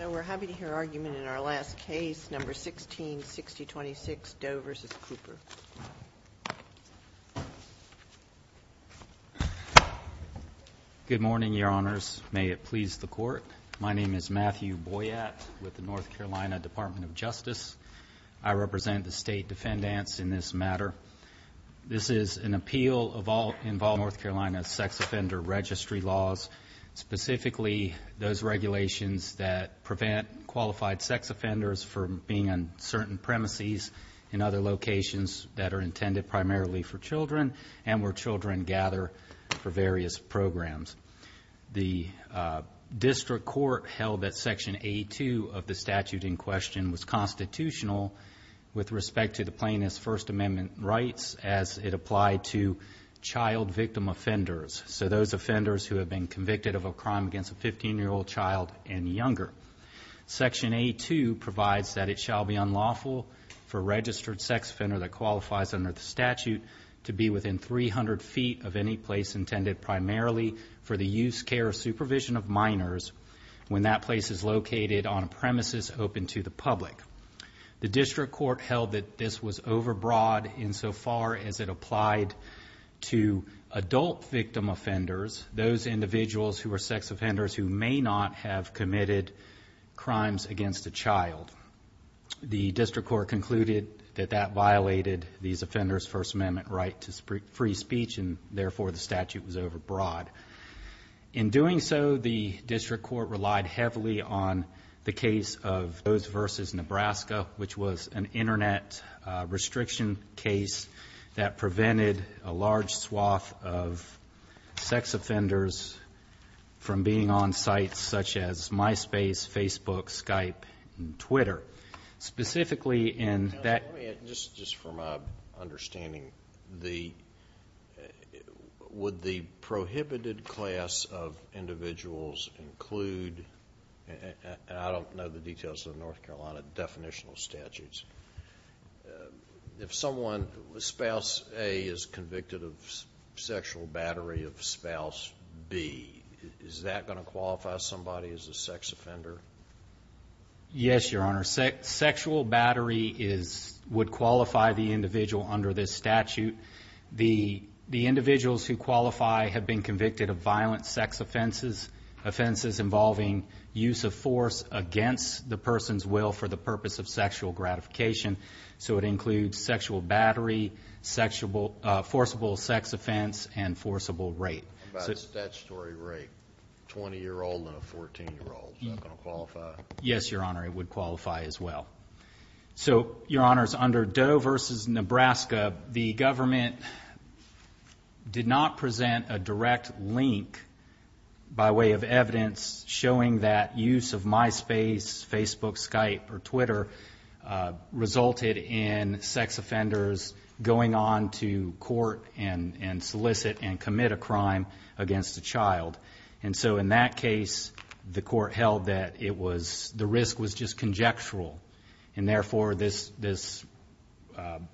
We're happy to hear argument in our last case, No. 16-6026, Doe v. Cooper. Good morning, Your Honors. May it please the Court. My name is Matthew Boyatt with the North Carolina Department of Justice. I represent the State Defendants in this matter. This is an appeal involving North Carolina sex offender registry laws, specifically those regulations that prevent qualified sex offenders from being on certain premises in other locations that are intended primarily for children and where children gather for various programs. The district court held that Section 82 of the statute in question was constitutional with respect to the plaintiff's First Amendment rights as it applied to child victim offenders, so those offenders who have been convicted of a crime against a 15-year-old child and younger. Section 82 provides that it shall be unlawful for a registered sex offender that qualifies under the statute to be within 300 feet of any place intended primarily for the use, care, or supervision of minors when that place is located on a premises open to the public. The district court held that this was overbroad insofar as it applied to adult victim offenders, those individuals who are sex offenders who may not have committed crimes against a child. The district court concluded that that violated these offenders' First Amendment right to free speech and therefore the statute was overbroad. In doing so, the district court relied heavily on the case of Rose v. Nebraska, which was an Internet restriction case that prevented a large swath of sex offenders from being on sites such as MySpace, Facebook, Skype, and Twitter. Just for my understanding, would the prohibited class of individuals include, and I don't know the details of the North Carolina definitional statutes, if spouse A is convicted of sexual battery of spouse B, is that going to qualify somebody as a sex offender? Yes, Your Honor. Sexual battery would qualify the individual under this statute. The individuals who qualify have been convicted of violent sex offenses, offenses involving use of force against the person's will for the purpose of sexual gratification, so it includes sexual battery, forcible sex offense, and forcible rape. What about statutory rape? 20-year-old and a 14-year-old, is that going to qualify? Yes, Your Honor, it would qualify as well. So, Your Honors, under Doe v. Nebraska, the government did not present a direct link by way of evidence showing that use of MySpace, Facebook, Skype, or Twitter resulted in sex offenders going on to court and solicit and commit a crime against a child. And so in that case, the court held that the risk was just conjectural, and therefore this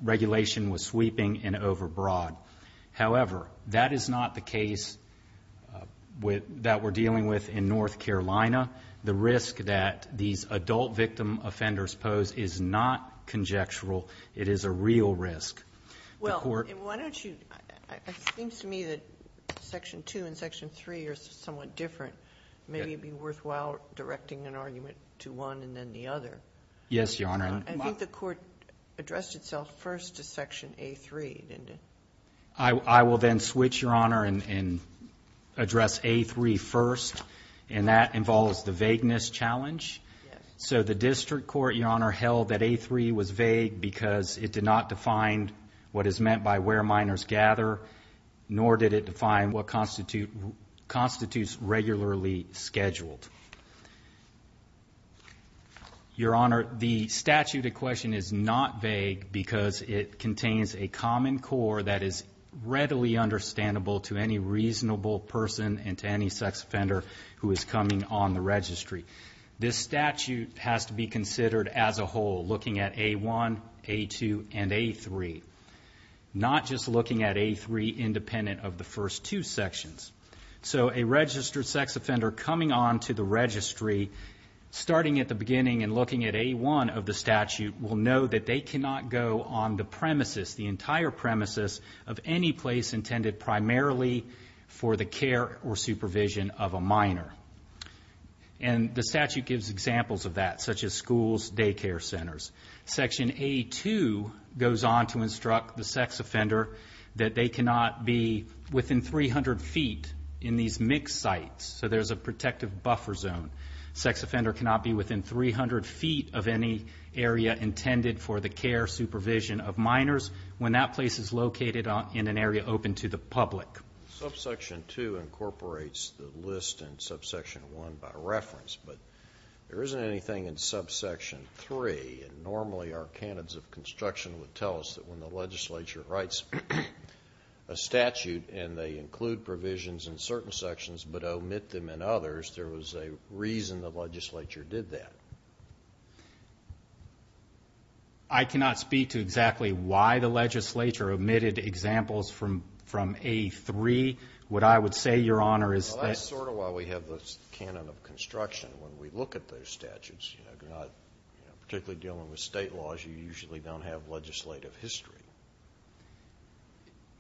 regulation was sweeping and overbroad. However, that is not the case that we're dealing with in North Carolina. The risk that these adult victim offenders pose is not conjectural. It is a real risk. Well, why don't you – it seems to me that Section 2 and Section 3 are somewhat different. Maybe it would be worthwhile directing an argument to one and then the other. Yes, Your Honor. I think the court addressed itself first to Section A3, didn't it? I will then switch, Your Honor, and address A3 first, and that involves the vagueness challenge. So the district court, Your Honor, held that A3 was vague because it did not define what is meant by where minors gather, nor did it define what constitutes regularly scheduled. Your Honor, the statute at question is not vague because it contains a common core that is readily understandable to any reasonable person and to any sex offender who is coming on the registry. This statute has to be considered as a whole, looking at A1, A2, and A3, not just looking at A3 independent of the first two sections. So a registered sex offender coming on to the registry, starting at the beginning and looking at A1 of the statute, will know that they cannot go on the premises, the entire premises of any place intended primarily for the care or supervision of a minor. And the statute gives examples of that, such as schools, daycare centers. Section A2 goes on to instruct the sex offender that they cannot be within 300 feet in these mixed sites, so there's a protective buffer zone. Sex offender cannot be within 300 feet of any area intended for the care or supervision of minors when that place is located in an area open to the public. Subsection 2 incorporates the list in subsection 1 by reference, but there isn't anything in subsection 3. Normally our canons of construction would tell us that when the legislature writes a statute and they include provisions in certain sections but omit them in others, there was a reason the legislature did that. I cannot speak to exactly why the legislature omitted examples from A3. What I would say, Your Honor, is that... Well, that's sort of why we have the canon of construction when we look at those statutes. You're not particularly dealing with state laws. You usually don't have legislative history.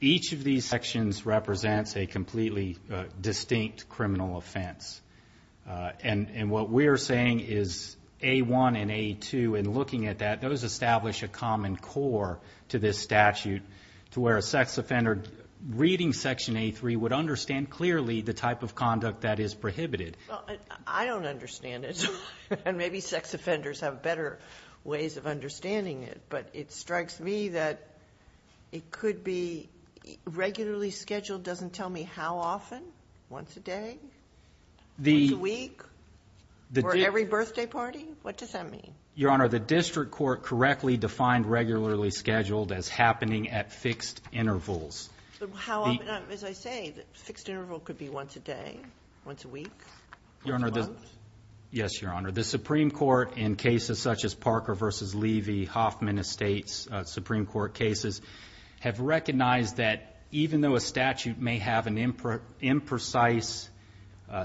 Each of these sections represents a completely distinct criminal offense. And what we're saying is A1 and A2, in looking at that, those establish a common core to this statute to where a sex offender, reading Section A3, would understand clearly the type of conduct that is prohibited. I don't understand it, and maybe sex offenders have better ways of understanding it, but it strikes me that it could be regularly scheduled doesn't tell me how often. Once a day? Once a week? For every birthday party? What does that mean? Your Honor, the district court correctly defined regularly scheduled as happening at fixed intervals. As I say, the fixed interval could be once a day, once a week, once a month? Yes, Your Honor. The Supreme Court, in cases such as Parker v. Levy, Hoffman Estates, Supreme Court cases, have recognized that even though a statute may have an imprecise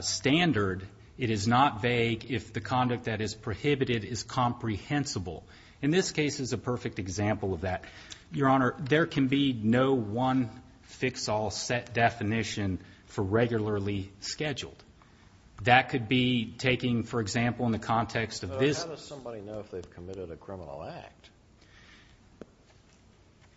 standard, it is not vague if the conduct that is prohibited is comprehensible. And this case is a perfect example of that. Your Honor, there can be no one-fix-all set definition for regularly scheduled. That could be taking, for example, in the context of this. How does somebody know if they've committed a criminal act?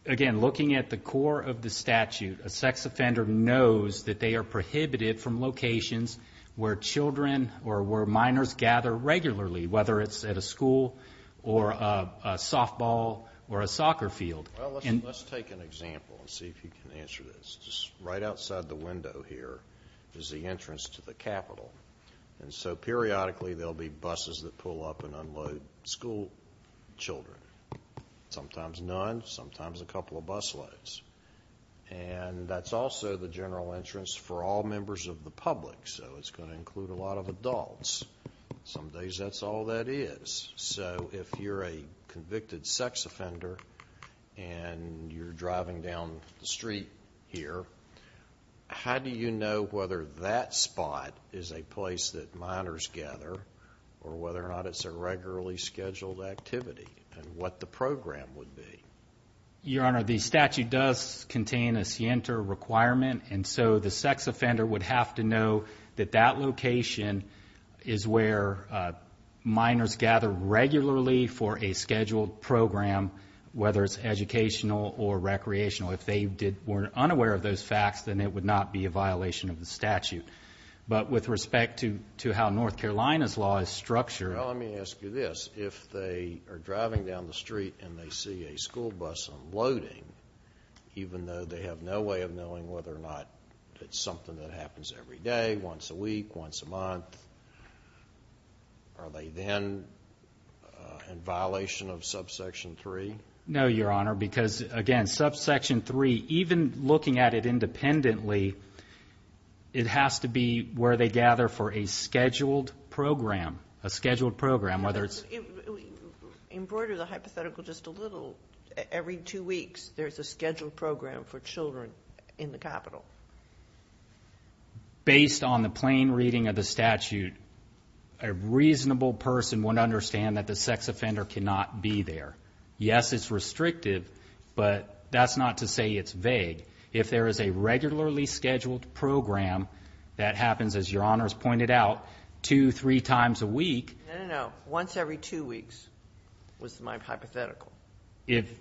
Again, looking at the core of the statute, a sex offender knows that they are prohibited from locations where children or where minors gather regularly, whether it's at a school or a softball or a soccer field. Well, let's take an example and see if you can answer this. Just right outside the window here is the entrance to the Capitol. And so periodically there will be buses that pull up and unload school children, sometimes none, sometimes a couple of busloads. And that's also the general entrance for all members of the public, so it's going to include a lot of adults. Some days that's all that is. So if you're a convicted sex offender and you're driving down the street here, how do you know whether that spot is a place that minors gather or whether or not it's a regularly scheduled activity and what the program would be? Your Honor, the statute does contain a scienter requirement, and so the sex offender would have to know that that location is where minors gather regularly for a scheduled program, whether it's educational or recreational. If they were unaware of those facts, then it would not be a violation of the statute. But with respect to how North Carolina's law is structured. Well, let me ask you this. If they are driving down the street and they see a school bus unloading, even though they have no way of knowing whether or not it's something that happens every day, once a week, once a month, are they then in violation of subsection 3? No, Your Honor, because, again, subsection 3, even looking at it independently, it has to be where they gather for a scheduled program, a scheduled program, whether it's... in the capital. Based on the plain reading of the statute, a reasonable person would understand that the sex offender cannot be there. Yes, it's restrictive, but that's not to say it's vague. If there is a regularly scheduled program that happens, as Your Honor has pointed out, two, three times a week... No, no, no, once every two weeks was my hypothetical.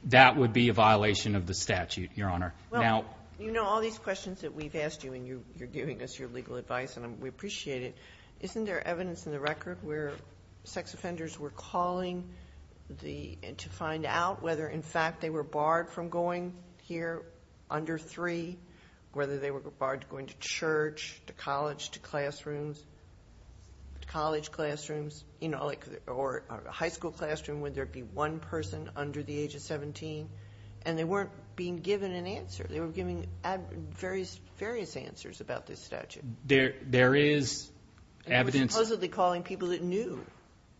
That would be a violation of the statute, Your Honor. Well, you know all these questions that we've asked you, and you're giving us your legal advice, and we appreciate it. Isn't there evidence in the record where sex offenders were calling to find out whether, in fact, they were barred from going here under 3, whether they were barred from going to church, to college, to classrooms, to college classrooms, you know, or a high school classroom, where there'd be one person under the age of 17, and they weren't being given an answer. They were giving various answers about this statute. There is evidence... And they were supposedly calling people that knew.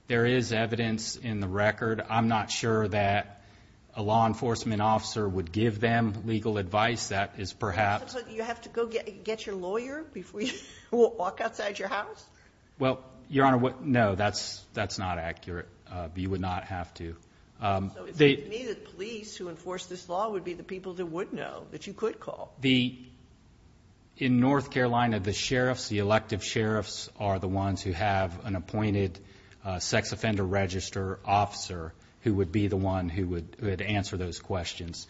There is evidence in the record. I'm not sure that a law enforcement officer would give them legal advice. That is perhaps... You have to go get your lawyer before you walk outside your house? Well, Your Honor, no, that's not accurate. You would not have to. So it would be the police who enforced this law would be the people that would know, that you could call? In North Carolina, the sheriffs, the elective sheriffs, are the ones who have an appointed sex offender register officer who would be the one who would answer those questions.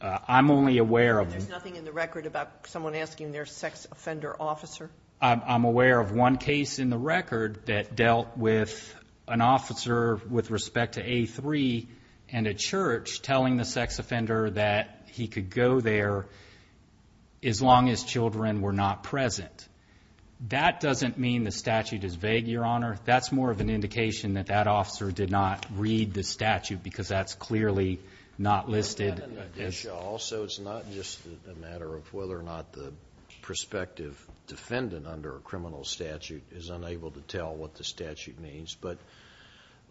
I'm only aware of... There's nothing in the record about someone asking their sex offender officer? I'm aware of one case in the record that dealt with an officer with respect to A3 and a church telling the sex offender that he could go there as long as children were not present. That doesn't mean the statute is vague, Your Honor. That's more of an indication that that officer did not read the statute because that's clearly not listed. Also, it's not just a matter of whether or not the prospective defendant under a criminal statute is unable to tell what the statute means, but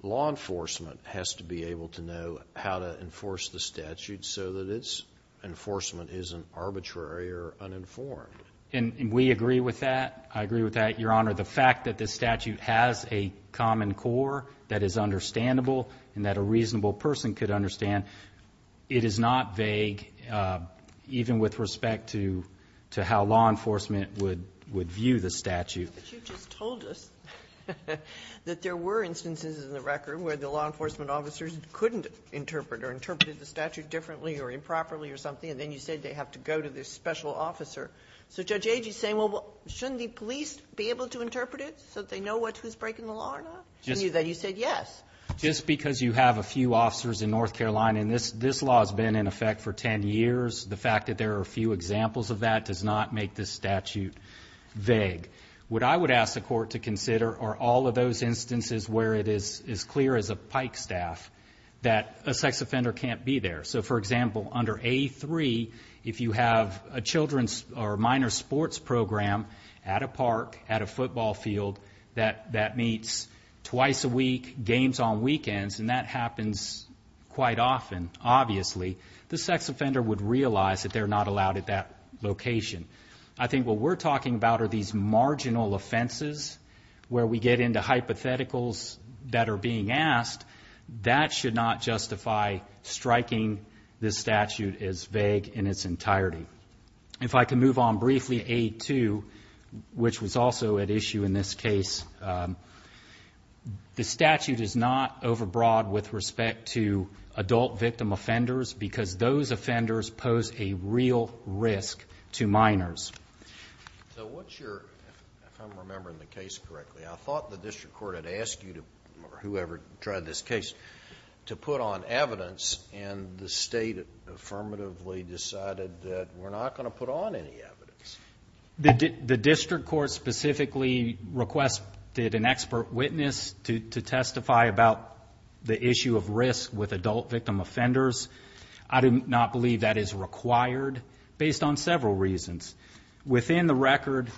law enforcement has to be able to know how to enforce the statute so that its enforcement isn't arbitrary or uninformed. And we agree with that. I agree with that, Your Honor. The fact that this statute has a common core that is understandable and that a reasonable person could understand, it is not vague even with respect to how law enforcement would view the statute. But you just told us that there were instances in the record where the law enforcement officers couldn't interpret or interpreted the statute differently or improperly or something, and then you said they have to go to this special officer. So Judge Agee is saying, well, shouldn't the police be able to interpret it so that they know who's breaking the law or not? And you said yes. Just because you have a few officers in North Carolina, and this law has been in effect for 10 years, the fact that there are a few examples of that does not make this statute vague. What I would ask the court to consider are all of those instances where it is as clear as a pike staff that a sex offender can't be there. So, for example, under A3, if you have a children's or minor sports program at a park, at a football field, that meets twice a week, games on weekends, and that happens quite often, obviously, the sex offender would realize that they're not allowed at that location. I think what we're talking about are these marginal offenses where we get into hypotheticals that are being asked. That should not justify striking this statute as vague in its entirety. If I can move on briefly to A2, which was also at issue in this case, the statute is not overbroad with respect to adult victim offenders because those offenders pose a real risk to minors. So what's your, if I'm remembering the case correctly, I thought the district court had asked you, or whoever tried this case, to put on evidence, and the state affirmatively decided that we're not going to put on any evidence. The district court specifically requested an expert witness to testify about the issue of risk with adult victim offenders. I do not believe that is required based on several reasons. Within the record,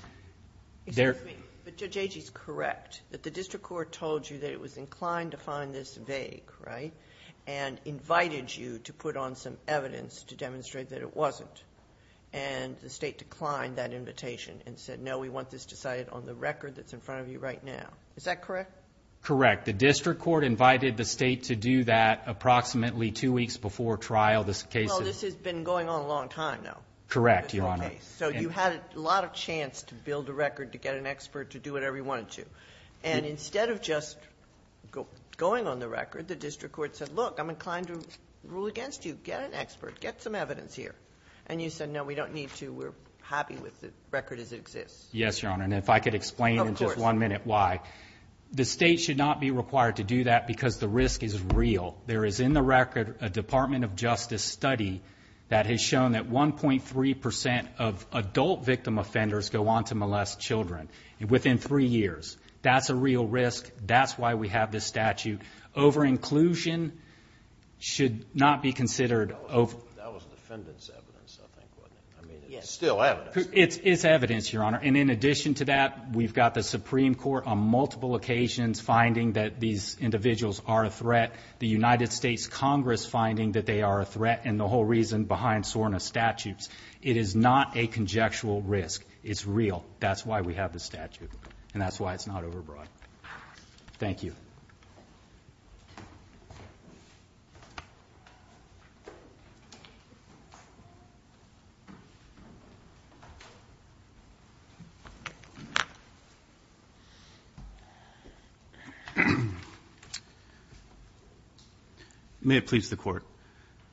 there... Excuse me, but Judge Agee is correct, that the district court told you that it was inclined to find this vague, right, and invited you to put on some evidence to demonstrate that it wasn't, and the state declined that invitation and said, no, we want this decided on the record that's in front of you right now. Is that correct? Correct. The district court invited the state to do that approximately two weeks before trial. This case is... Well, this has been going on a long time now. Correct, Your Honor. So you had a lot of chance to build a record, to get an expert, to do whatever you wanted to. And instead of just going on the record, the district court said, look, I'm inclined to rule against you. Get an expert. Get some evidence here. And you said, no, we don't need to. We're happy with the record as it exists. Yes, Your Honor, and if I could explain in just one minute why. Of course. The state should not be required to do that because the risk is real. There is in the record a Department of Justice study that has shown that 1.3 percent of adult victim offenders go on to molest children. Within three years. That's a real risk. That's why we have this statute. Over-inclusion should not be considered... That was defendant's evidence, I think. I mean, it's still evidence. It's evidence, Your Honor. And in addition to that, we've got the Supreme Court on multiple occasions finding that these individuals are a threat, the United States Congress finding that they are a threat, and the whole reason behind SORNA statutes. It is not a conjectural risk. It's real. That's why we have this statute, and that's why it's not over-broad. Thank you. May it please the Court.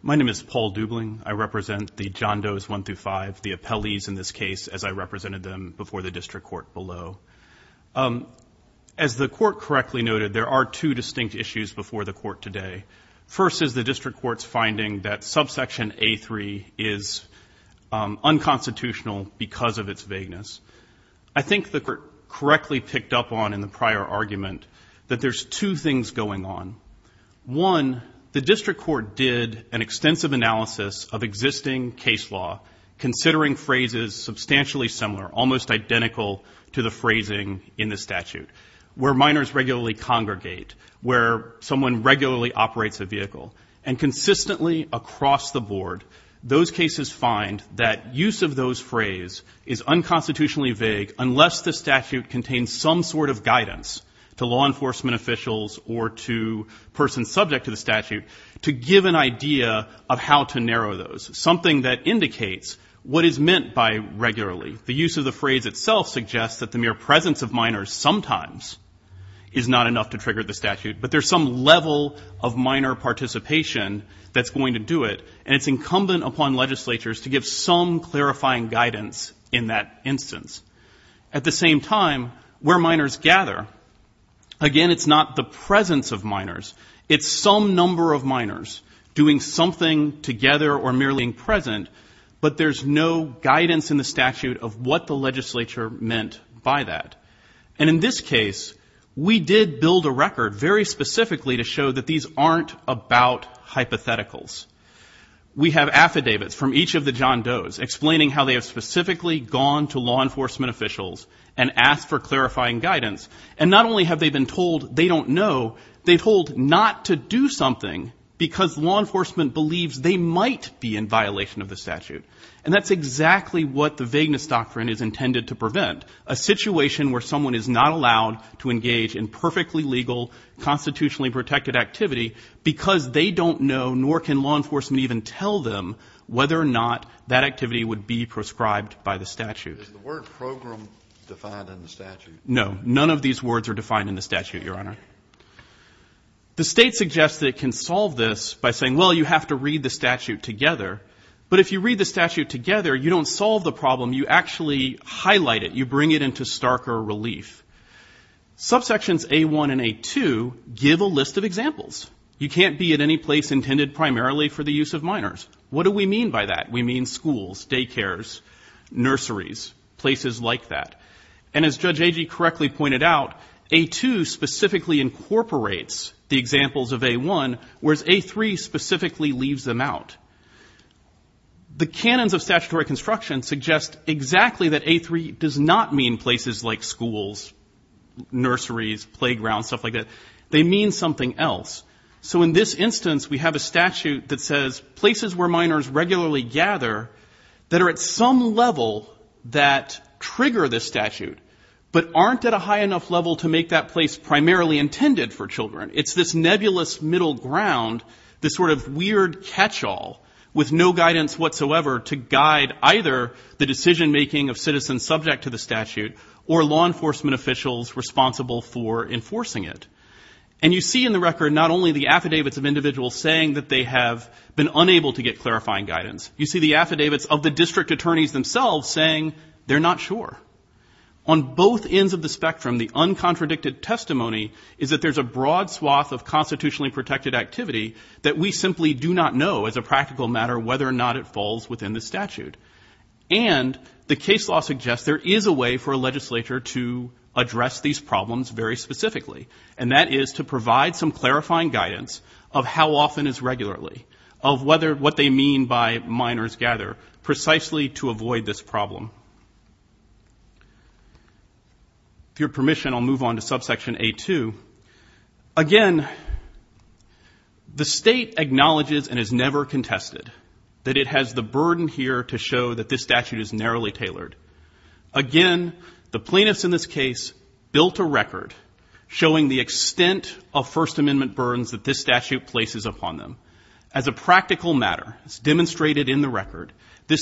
My name is Paul Dubling. I represent the John Doe's 1 through 5, the appellees in this case as I represented them before the district court below. As the court correctly noted, there are two distinct issues before the court today. First is the district court's finding that subsection A3 is unconstitutional because of its vagueness. I think the court correctly picked up on in the prior argument that there's two things going on. One, the district court did an extensive analysis of existing case law, considering phrases substantially similar, almost identical to the phrasing in the statute, where minors regularly congregate, where someone regularly operates a vehicle. And consistently across the board, those cases find that use of those phrase is unconstitutionally vague unless the statute contains some sort of guidance to law enforcement officials or to persons subject to the statute to give an idea of how to narrow those, something that indicates what is meant by regularly. The use of the phrase itself suggests that the mere presence of minors sometimes is not enough to trigger the statute, but there's some level of minor participation that's going to do it, and it's incumbent upon legislatures to give some clarifying guidance in that instance. At the same time, where minors gather, again, it's not the presence of minors. It's some number of minors doing something together or merely being present, but there's no guidance in the statute of what the legislature meant by that. And in this case, we did build a record very specifically to show that these aren't about hypotheticals. We have affidavits from each of the John Does explaining how they have specifically gone to law enforcement officials and asked for clarifying guidance, and not only have they been told they don't know, they've been told not to do something because law enforcement believes they might be in violation of the statute. And that's exactly what the vagueness doctrine is intended to prevent, a situation where someone is not allowed to engage in perfectly legal, constitutionally protected activity because they don't know, nor can law enforcement even tell them, whether or not that activity would be prescribed by the statute. Is the word program defined in the statute? No. None of these words are defined in the statute, Your Honor. The state suggests that it can solve this by saying, well, you have to read the statute together, but if you read the statute together, you don't solve the problem. You actually highlight it. You bring it into starker relief. Subsections A-1 and A-2 give a list of examples. You can't be at any place intended primarily for the use of minors. What do we mean by that? We mean schools, daycares, nurseries, places like that. And as Judge Agee correctly pointed out, A-2 specifically incorporates the examples of A-1, whereas A-3 specifically leaves them out. The canons of statutory construction suggest exactly that A-3 does not mean places like schools, nurseries, playgrounds, stuff like that. They mean something else. So in this instance, we have a statute that says places where minors regularly gather that are at some level that trigger this statute, but aren't at a high enough level to make that place primarily intended for children. It's this nebulous middle ground, this sort of weird catch-all, with no guidance whatsoever to guide either the decision-making of citizens subject to the statute or law enforcement officials responsible for enforcing it. And you see in the record not only the affidavits of individuals saying that they have been unable to get clarifying guidance. You see the affidavits of the district attorneys themselves saying they're not sure. On both ends of the spectrum, the uncontradicted testimony is that there's a broad swath of constitutionally protected activity that we simply do not know as a practical matter whether or not it falls within the statute. And the case law suggests there is a way for a legislature to address these problems very specifically, and that is to provide some clarifying guidance of how often is regularly, of what they mean by minors gather, precisely to avoid this problem. With your permission, I'll move on to subsection A-2. Again, the state acknowledges and has never contested that it has the burden here to show that this statute is narrowly tailored. Again, the plaintiffs in this case built a record showing the extent of First Amendment burdens that this statute places upon them. This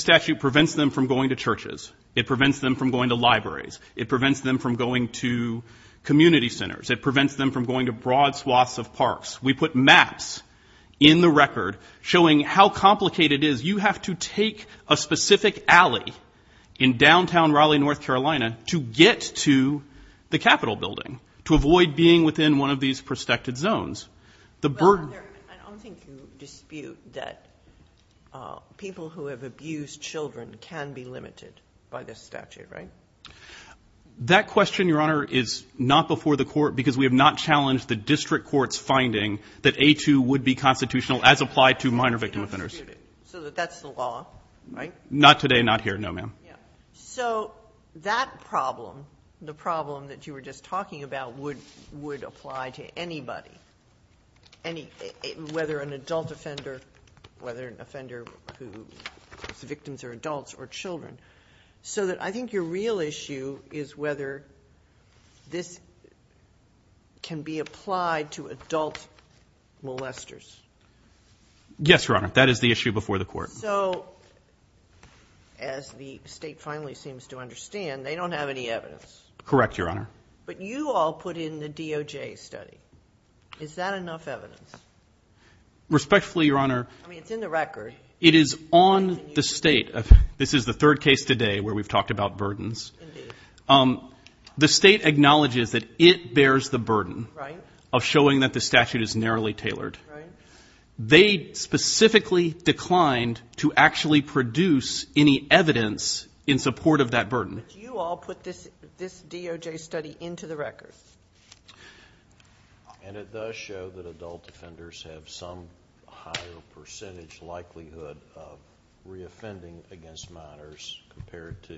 statute prevents them from going to churches. It prevents them from going to libraries. It prevents them from going to community centers. It prevents them from going to broad swaths of parks. We put maps in the record showing how complicated it is. You have to take a specific alley in downtown Raleigh, North Carolina, to get to the Capitol building to avoid being within one of these protected zones. I don't think you dispute that people who have abused children can be limited by this statute, right? That question, Your Honor, is not before the court because we have not challenged the district court's finding that A-2 would be constitutional as applied to minor victim offenders. So that's the law, right? Not today, not here, no, ma'am. So that problem, the problem that you were just talking about, would apply to anybody, whether an adult offender, whether an offender whose victims are adults or children. So I think your real issue is whether this can be applied to adult molesters. Yes, Your Honor. That is the issue before the court. So as the state finally seems to understand, they don't have any evidence. Correct, Your Honor. But you all put in the DOJ study. Is that enough evidence? Respectfully, Your Honor. I mean, it's in the record. It is on the state. This is the third case today where we've talked about burdens. of showing that the statute is narrowly tailored. Right. They specifically declined to actually produce any evidence in support of that burden. You all put this DOJ study into the record. And it does show that adult offenders have some higher percentage likelihood of reoffending against minors compared to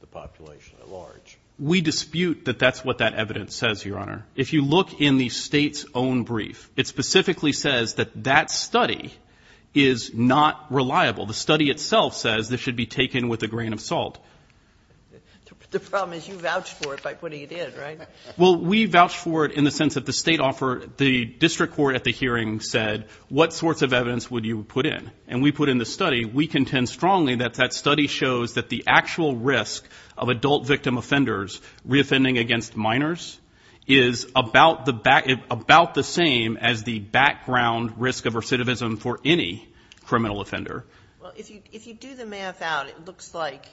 the population at large. We dispute that that's what that evidence says, Your Honor. If you look in the state's own brief, it specifically says that that study is not reliable. The study itself says this should be taken with a grain of salt. The problem is you vouched for it by putting it in, right? Well, we vouched for it in the sense that the state offered the district court at the hearing said, what sorts of evidence would you put in? And we put in the study. We contend strongly that that study shows that the actual risk of adult victim offenders reoffending against minors is about the same as the background risk of recidivism for any criminal offender. Well, if you do the math out, it looks like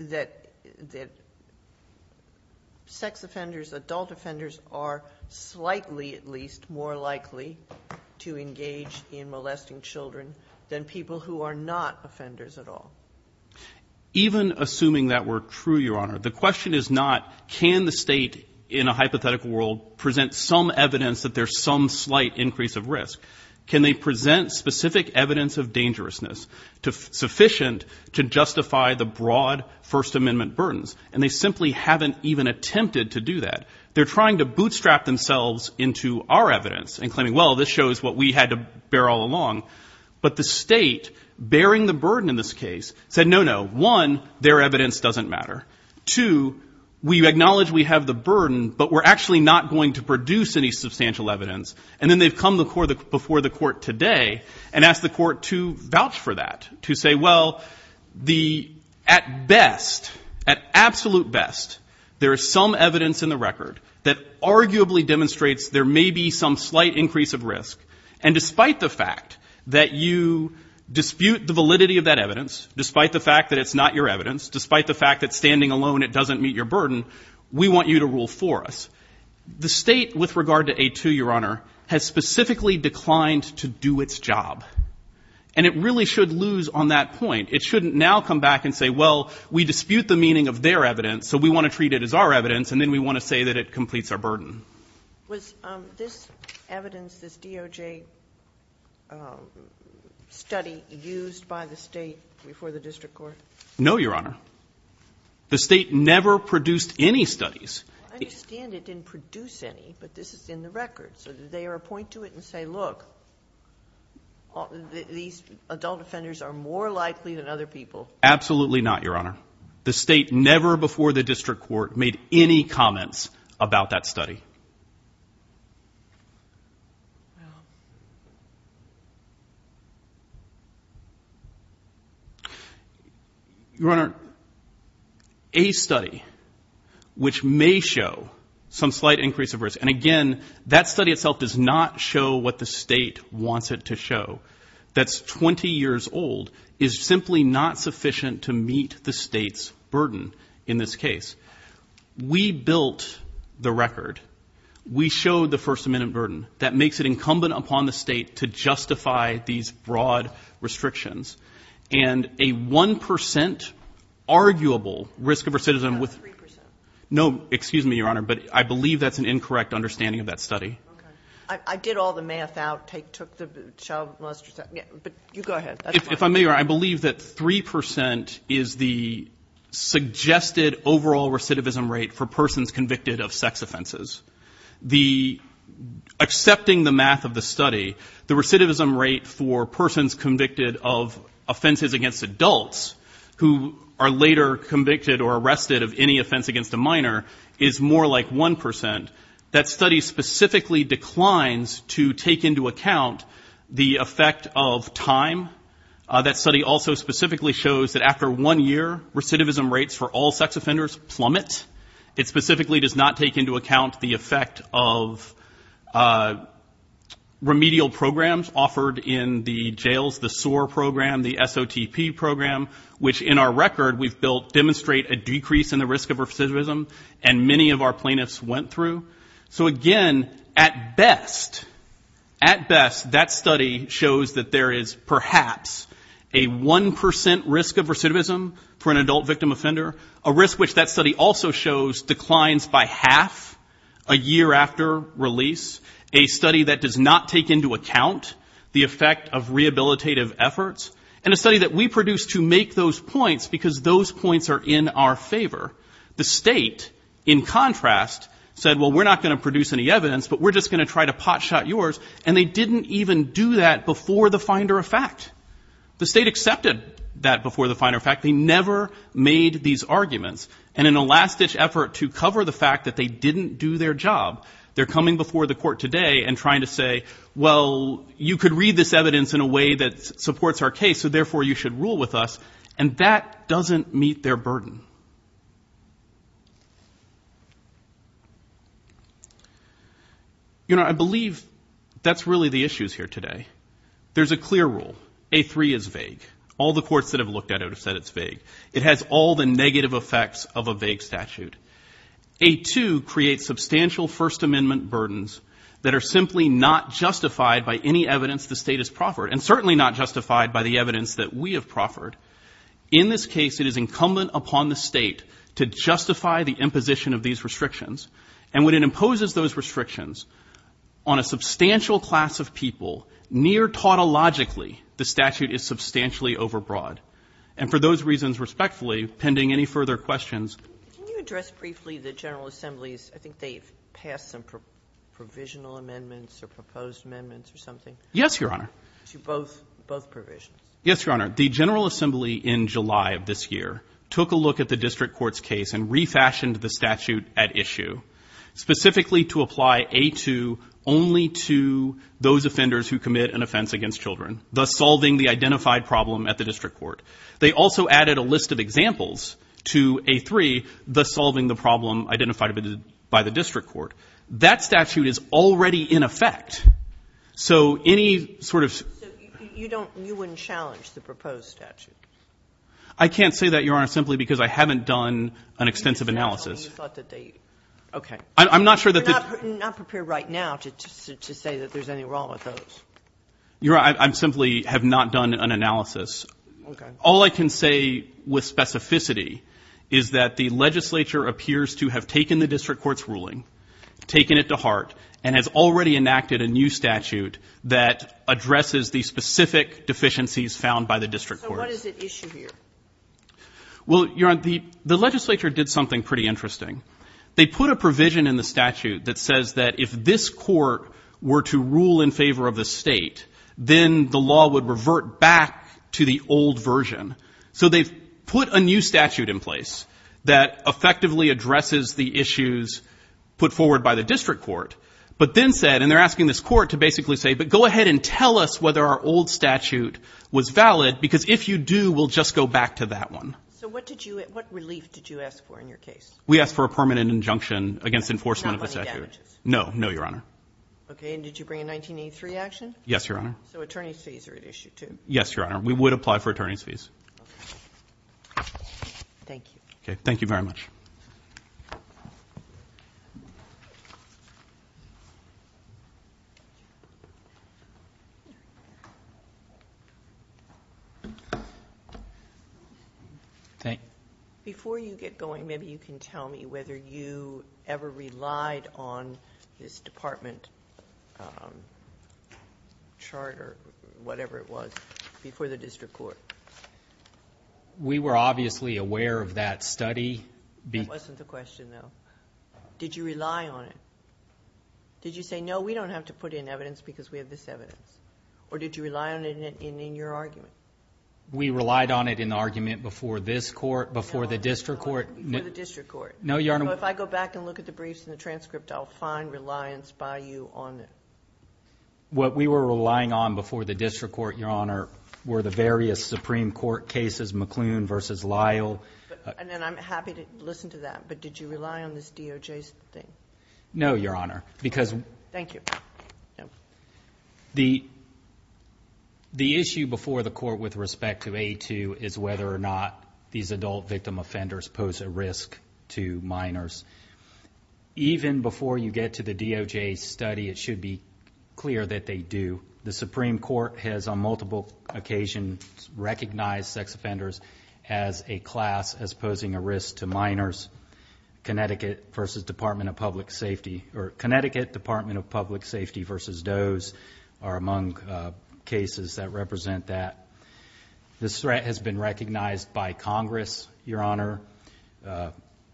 that sex offenders, adult offenders, are slightly at least more likely to engage in molesting children than people who are not offenders at all. Even assuming that were true, Your Honor, the question is not can the state in a hypothetical world present some evidence that there's some slight increase of risk. Can they present specific evidence of dangerousness sufficient to justify the broad First Amendment burdens? And they simply haven't even attempted to do that. They're trying to bootstrap themselves into our evidence and claiming, well, this shows what we had to bear all along. But the state bearing the burden in this case said, no, no, one, their evidence doesn't matter. Two, we acknowledge we have the burden, but we're actually not going to produce any substantial evidence. And then they've come before the court today and asked the court to vouch for that, to say, well, at best, at absolute best, there is some evidence in the record that arguably demonstrates there may be some slight increase of risk. And despite the fact that you dispute the validity of that evidence, despite the fact that it's not your evidence, despite the fact that standing alone it doesn't meet your burden, we want you to rule for us. The state with regard to A2, Your Honor, has specifically declined to do its job. And it really should lose on that point. It shouldn't now come back and say, well, we dispute the meaning of their evidence, so we want to treat it as our evidence, and then we want to say that it completes our burden. Was this evidence, this DOJ study used by the state before the district court? No, Your Honor. The state never produced any studies. I understand it didn't produce any, but this is in the record. So did they appoint to it and say, look, these adult offenders are more likely than other people? Absolutely not, Your Honor. The state never before the district court made any comments about that study. Your Honor, a study which may show some slight increase of risk, and, again, that study itself does not show what the state wants it to show, that's 20 years old, is simply not sufficient to meet the state's burden in this case. We built the record. We showed the First Amendment burden. That makes it incumbent upon the state to justify these broad restrictions. And a 1% arguable risk of recidivism with – Not 3%. No, excuse me, Your Honor, but I believe that's an incorrect understanding of that study. Okay. I did all the math out, took the – but you go ahead. If I may, Your Honor, I believe that 3% is the suggested overall recidivism rate for persons convicted of sex offenses. The – accepting the math of the study, the recidivism rate for persons convicted of offenses against adults who are later convicted or arrested of any offense against a minor is more like 1%. That study specifically declines to take into account the effect of time. That study also specifically shows that after one year, recidivism rates for all sex offenders plummet. It specifically does not take into account the effect of remedial programs offered in the jails, the SOAR program, the SOTP program, which in our record we've built, demonstrate a decrease in the risk of recidivism, and many of our plaintiffs went through. So, again, at best, at best, that study shows that there is perhaps a 1% risk of recidivism for an adult victim offender, a risk which that study also shows declines by half a year after release, a study that does not take into account the effect of rehabilitative efforts, and a study that we produced to make those points because those points are in our favor. The state, in contrast, said, well, we're not going to produce any evidence, but we're just going to try to potshot yours, and they didn't even do that before the finder of fact. The state accepted that before the finder of fact. They never made these arguments. And in a last-ditch effort to cover the fact that they didn't do their job, they're coming before the court today and trying to say, well, you could read this evidence in a way that supports our case, so, therefore, you should rule with us, and that doesn't meet their burden. You know, I believe that's really the issues here today. There's a clear rule. A3 is vague. All the courts that have looked at it have said it's vague. It has all the negative effects of a vague statute. A2 creates substantial First Amendment burdens that are simply not justified by any evidence the state has proffered, and certainly not justified by the evidence that we have proffered. In this case, it is incumbent upon the state to justify the imposition of these restrictions, and when it imposes those restrictions on a substantial class of people, near-tautologically, the statute is substantially overbroad. And for those reasons, respectfully, pending any further questions. Can you address briefly the General Assembly's, I think they've passed some provisional amendments or proposed amendments or something? Yes, Your Honor. To both provisions? Yes, Your Honor. The General Assembly in July of this year took a look at the district court's case and refashioned the statute at issue, specifically to apply A2 only to those offenders who commit an offense against children, thus solving the identified problem at the district court. They also added a list of examples to A3, thus solving the problem identified by the district court. That statute is already in effect. So any sort of... So you don't, you wouldn't challenge the proposed statute? I can't say that, Your Honor, simply because I haven't done an extensive analysis. Okay. I'm not sure that... You're not prepared right now to say that there's anything wrong with those. Your Honor, I simply have not done an analysis. Okay. All I can say with specificity is that the legislature appears to have taken the district court's ruling, taken it to heart, and has already enacted a new statute that addresses the specific deficiencies found by the district court. So what is at issue here? Well, Your Honor, the legislature did something pretty interesting. They put a provision in the statute that says that if this court were to rule in favor of the state, then the law would revert back to the old version. So they've put a new statute in place that effectively addresses the issues put forward by the district court, but then said, and they're asking this court to basically say, but go ahead and tell us whether our old statute was valid, because if you do, we'll just go back to that one. So what relief did you ask for in your case? We asked for a permanent injunction against enforcement of the statute. Not money damages? No, no, Your Honor. Okay, and did you bring a 1983 action? Yes, Your Honor. So attorney's fees are at issue too? Yes, Your Honor. We would apply for attorney's fees. Okay. Thank you. Okay, thank you very much. Before you get going, maybe you can tell me whether you ever relied on this department charter, whatever it was, before the district court. We were obviously aware of that study. That wasn't the question though. Did you rely on it? Did you say, no, we don't have to put in evidence because we have this evidence? Or did you rely on it in your argument? We relied on it in the argument before this court, before the district court. No, Your Honor. So if I go back and look at the briefs and the transcript, I'll find reliance by you on it. What we were relying on before the district court, Your Honor, were the various Supreme Court cases, McClune versus Lyle. And I'm happy to listen to that, but did you rely on this DOJ thing? No, Your Honor, because... Thank you. The issue before the court with respect to A2 is whether or not these adult victim offenders pose a risk to minors. Even before you get to the DOJ study, it should be clear that they do. The Supreme Court has, on multiple occasions, recognized sex offenders as a class as posing a risk to minors, Connecticut versus Department of Public Safety, or Connecticut Department of Public Safety versus DOE's are among cases that represent that. This threat has been recognized by Congress, Your Honor,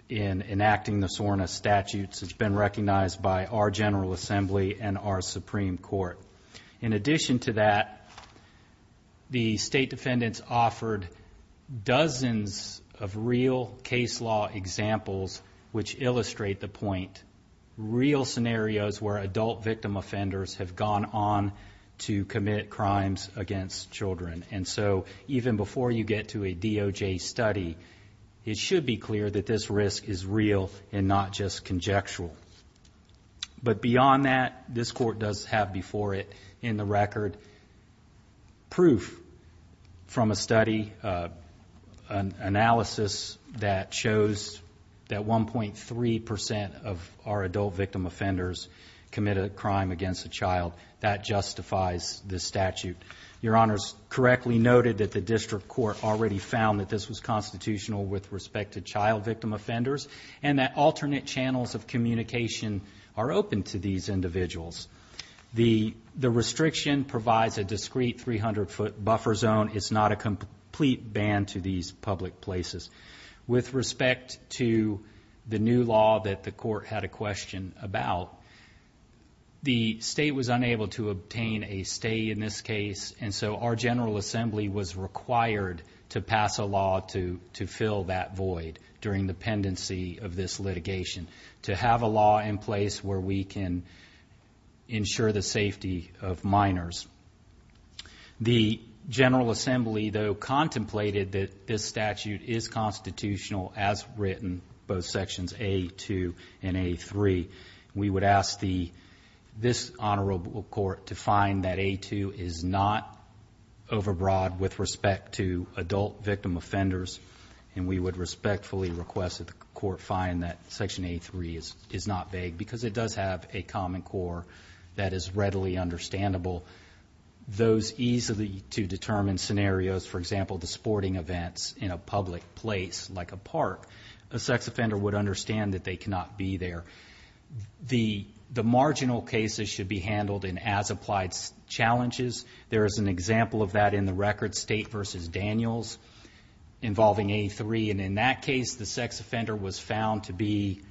in enacting the SORNA statutes. It's been recognized by our General Assembly and our Supreme Court. In addition to that, the state defendants offered dozens of real case law examples which illustrate the point, real scenarios where adult victim offenders have gone on to commit crimes against children. And so, even before you get to a DOJ study, it should be clear that this risk is real and not just conjectural. But beyond that, this court does have before it in the record proof from a study, an analysis that shows that 1.3% of our adult victim offenders commit a crime against a child. That justifies this statute. Your Honor's correctly noted that the district court already found that this was constitutional with respect to child victim offenders and that alternate channels of communication are open to these individuals. The restriction provides a discrete 300-foot buffer zone. It's not a complete ban to these public places. With respect to the new law that the court had a question about, the state was unable to obtain a stay in this case, and so our General Assembly was required to pass a law to fill that void during the pendency of this litigation, to have a law in place where we can ensure the safety of minors. The General Assembly, though, contemplated that this statute is constitutional as written, both Sections A-2 and A-3. We would ask this honorable court to find that A-2 is not overbroad with respect to adult victim offenders, and we would respectfully request that the court find that Section A-3 is not vague because it does have a common core that is readily understandable. Those easy-to-determine scenarios, for example, the sporting events in a public place like a park, a sex offender would understand that they cannot be there. The marginal cases should be handled in as-applied challenges. There is an example of that in the record, State v. Daniels, involving A-3, and in that case the sex offender was found to be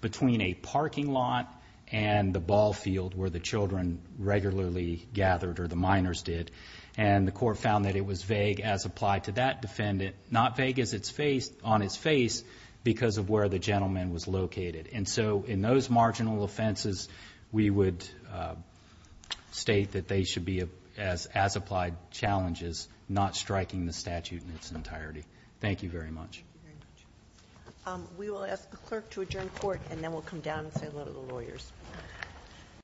between a parking lot and the ball field where the children regularly gathered, or the minors did, and the court found that it was vague as applied to that defendant, not vague on its face because of where the gentleman was located. And so in those marginal offenses, we would state that they should be as-applied challenges, not striking the statute in its entirety. Thank you very much. We will ask the clerk to adjourn court, and then we'll come down and say hello to the lawyers.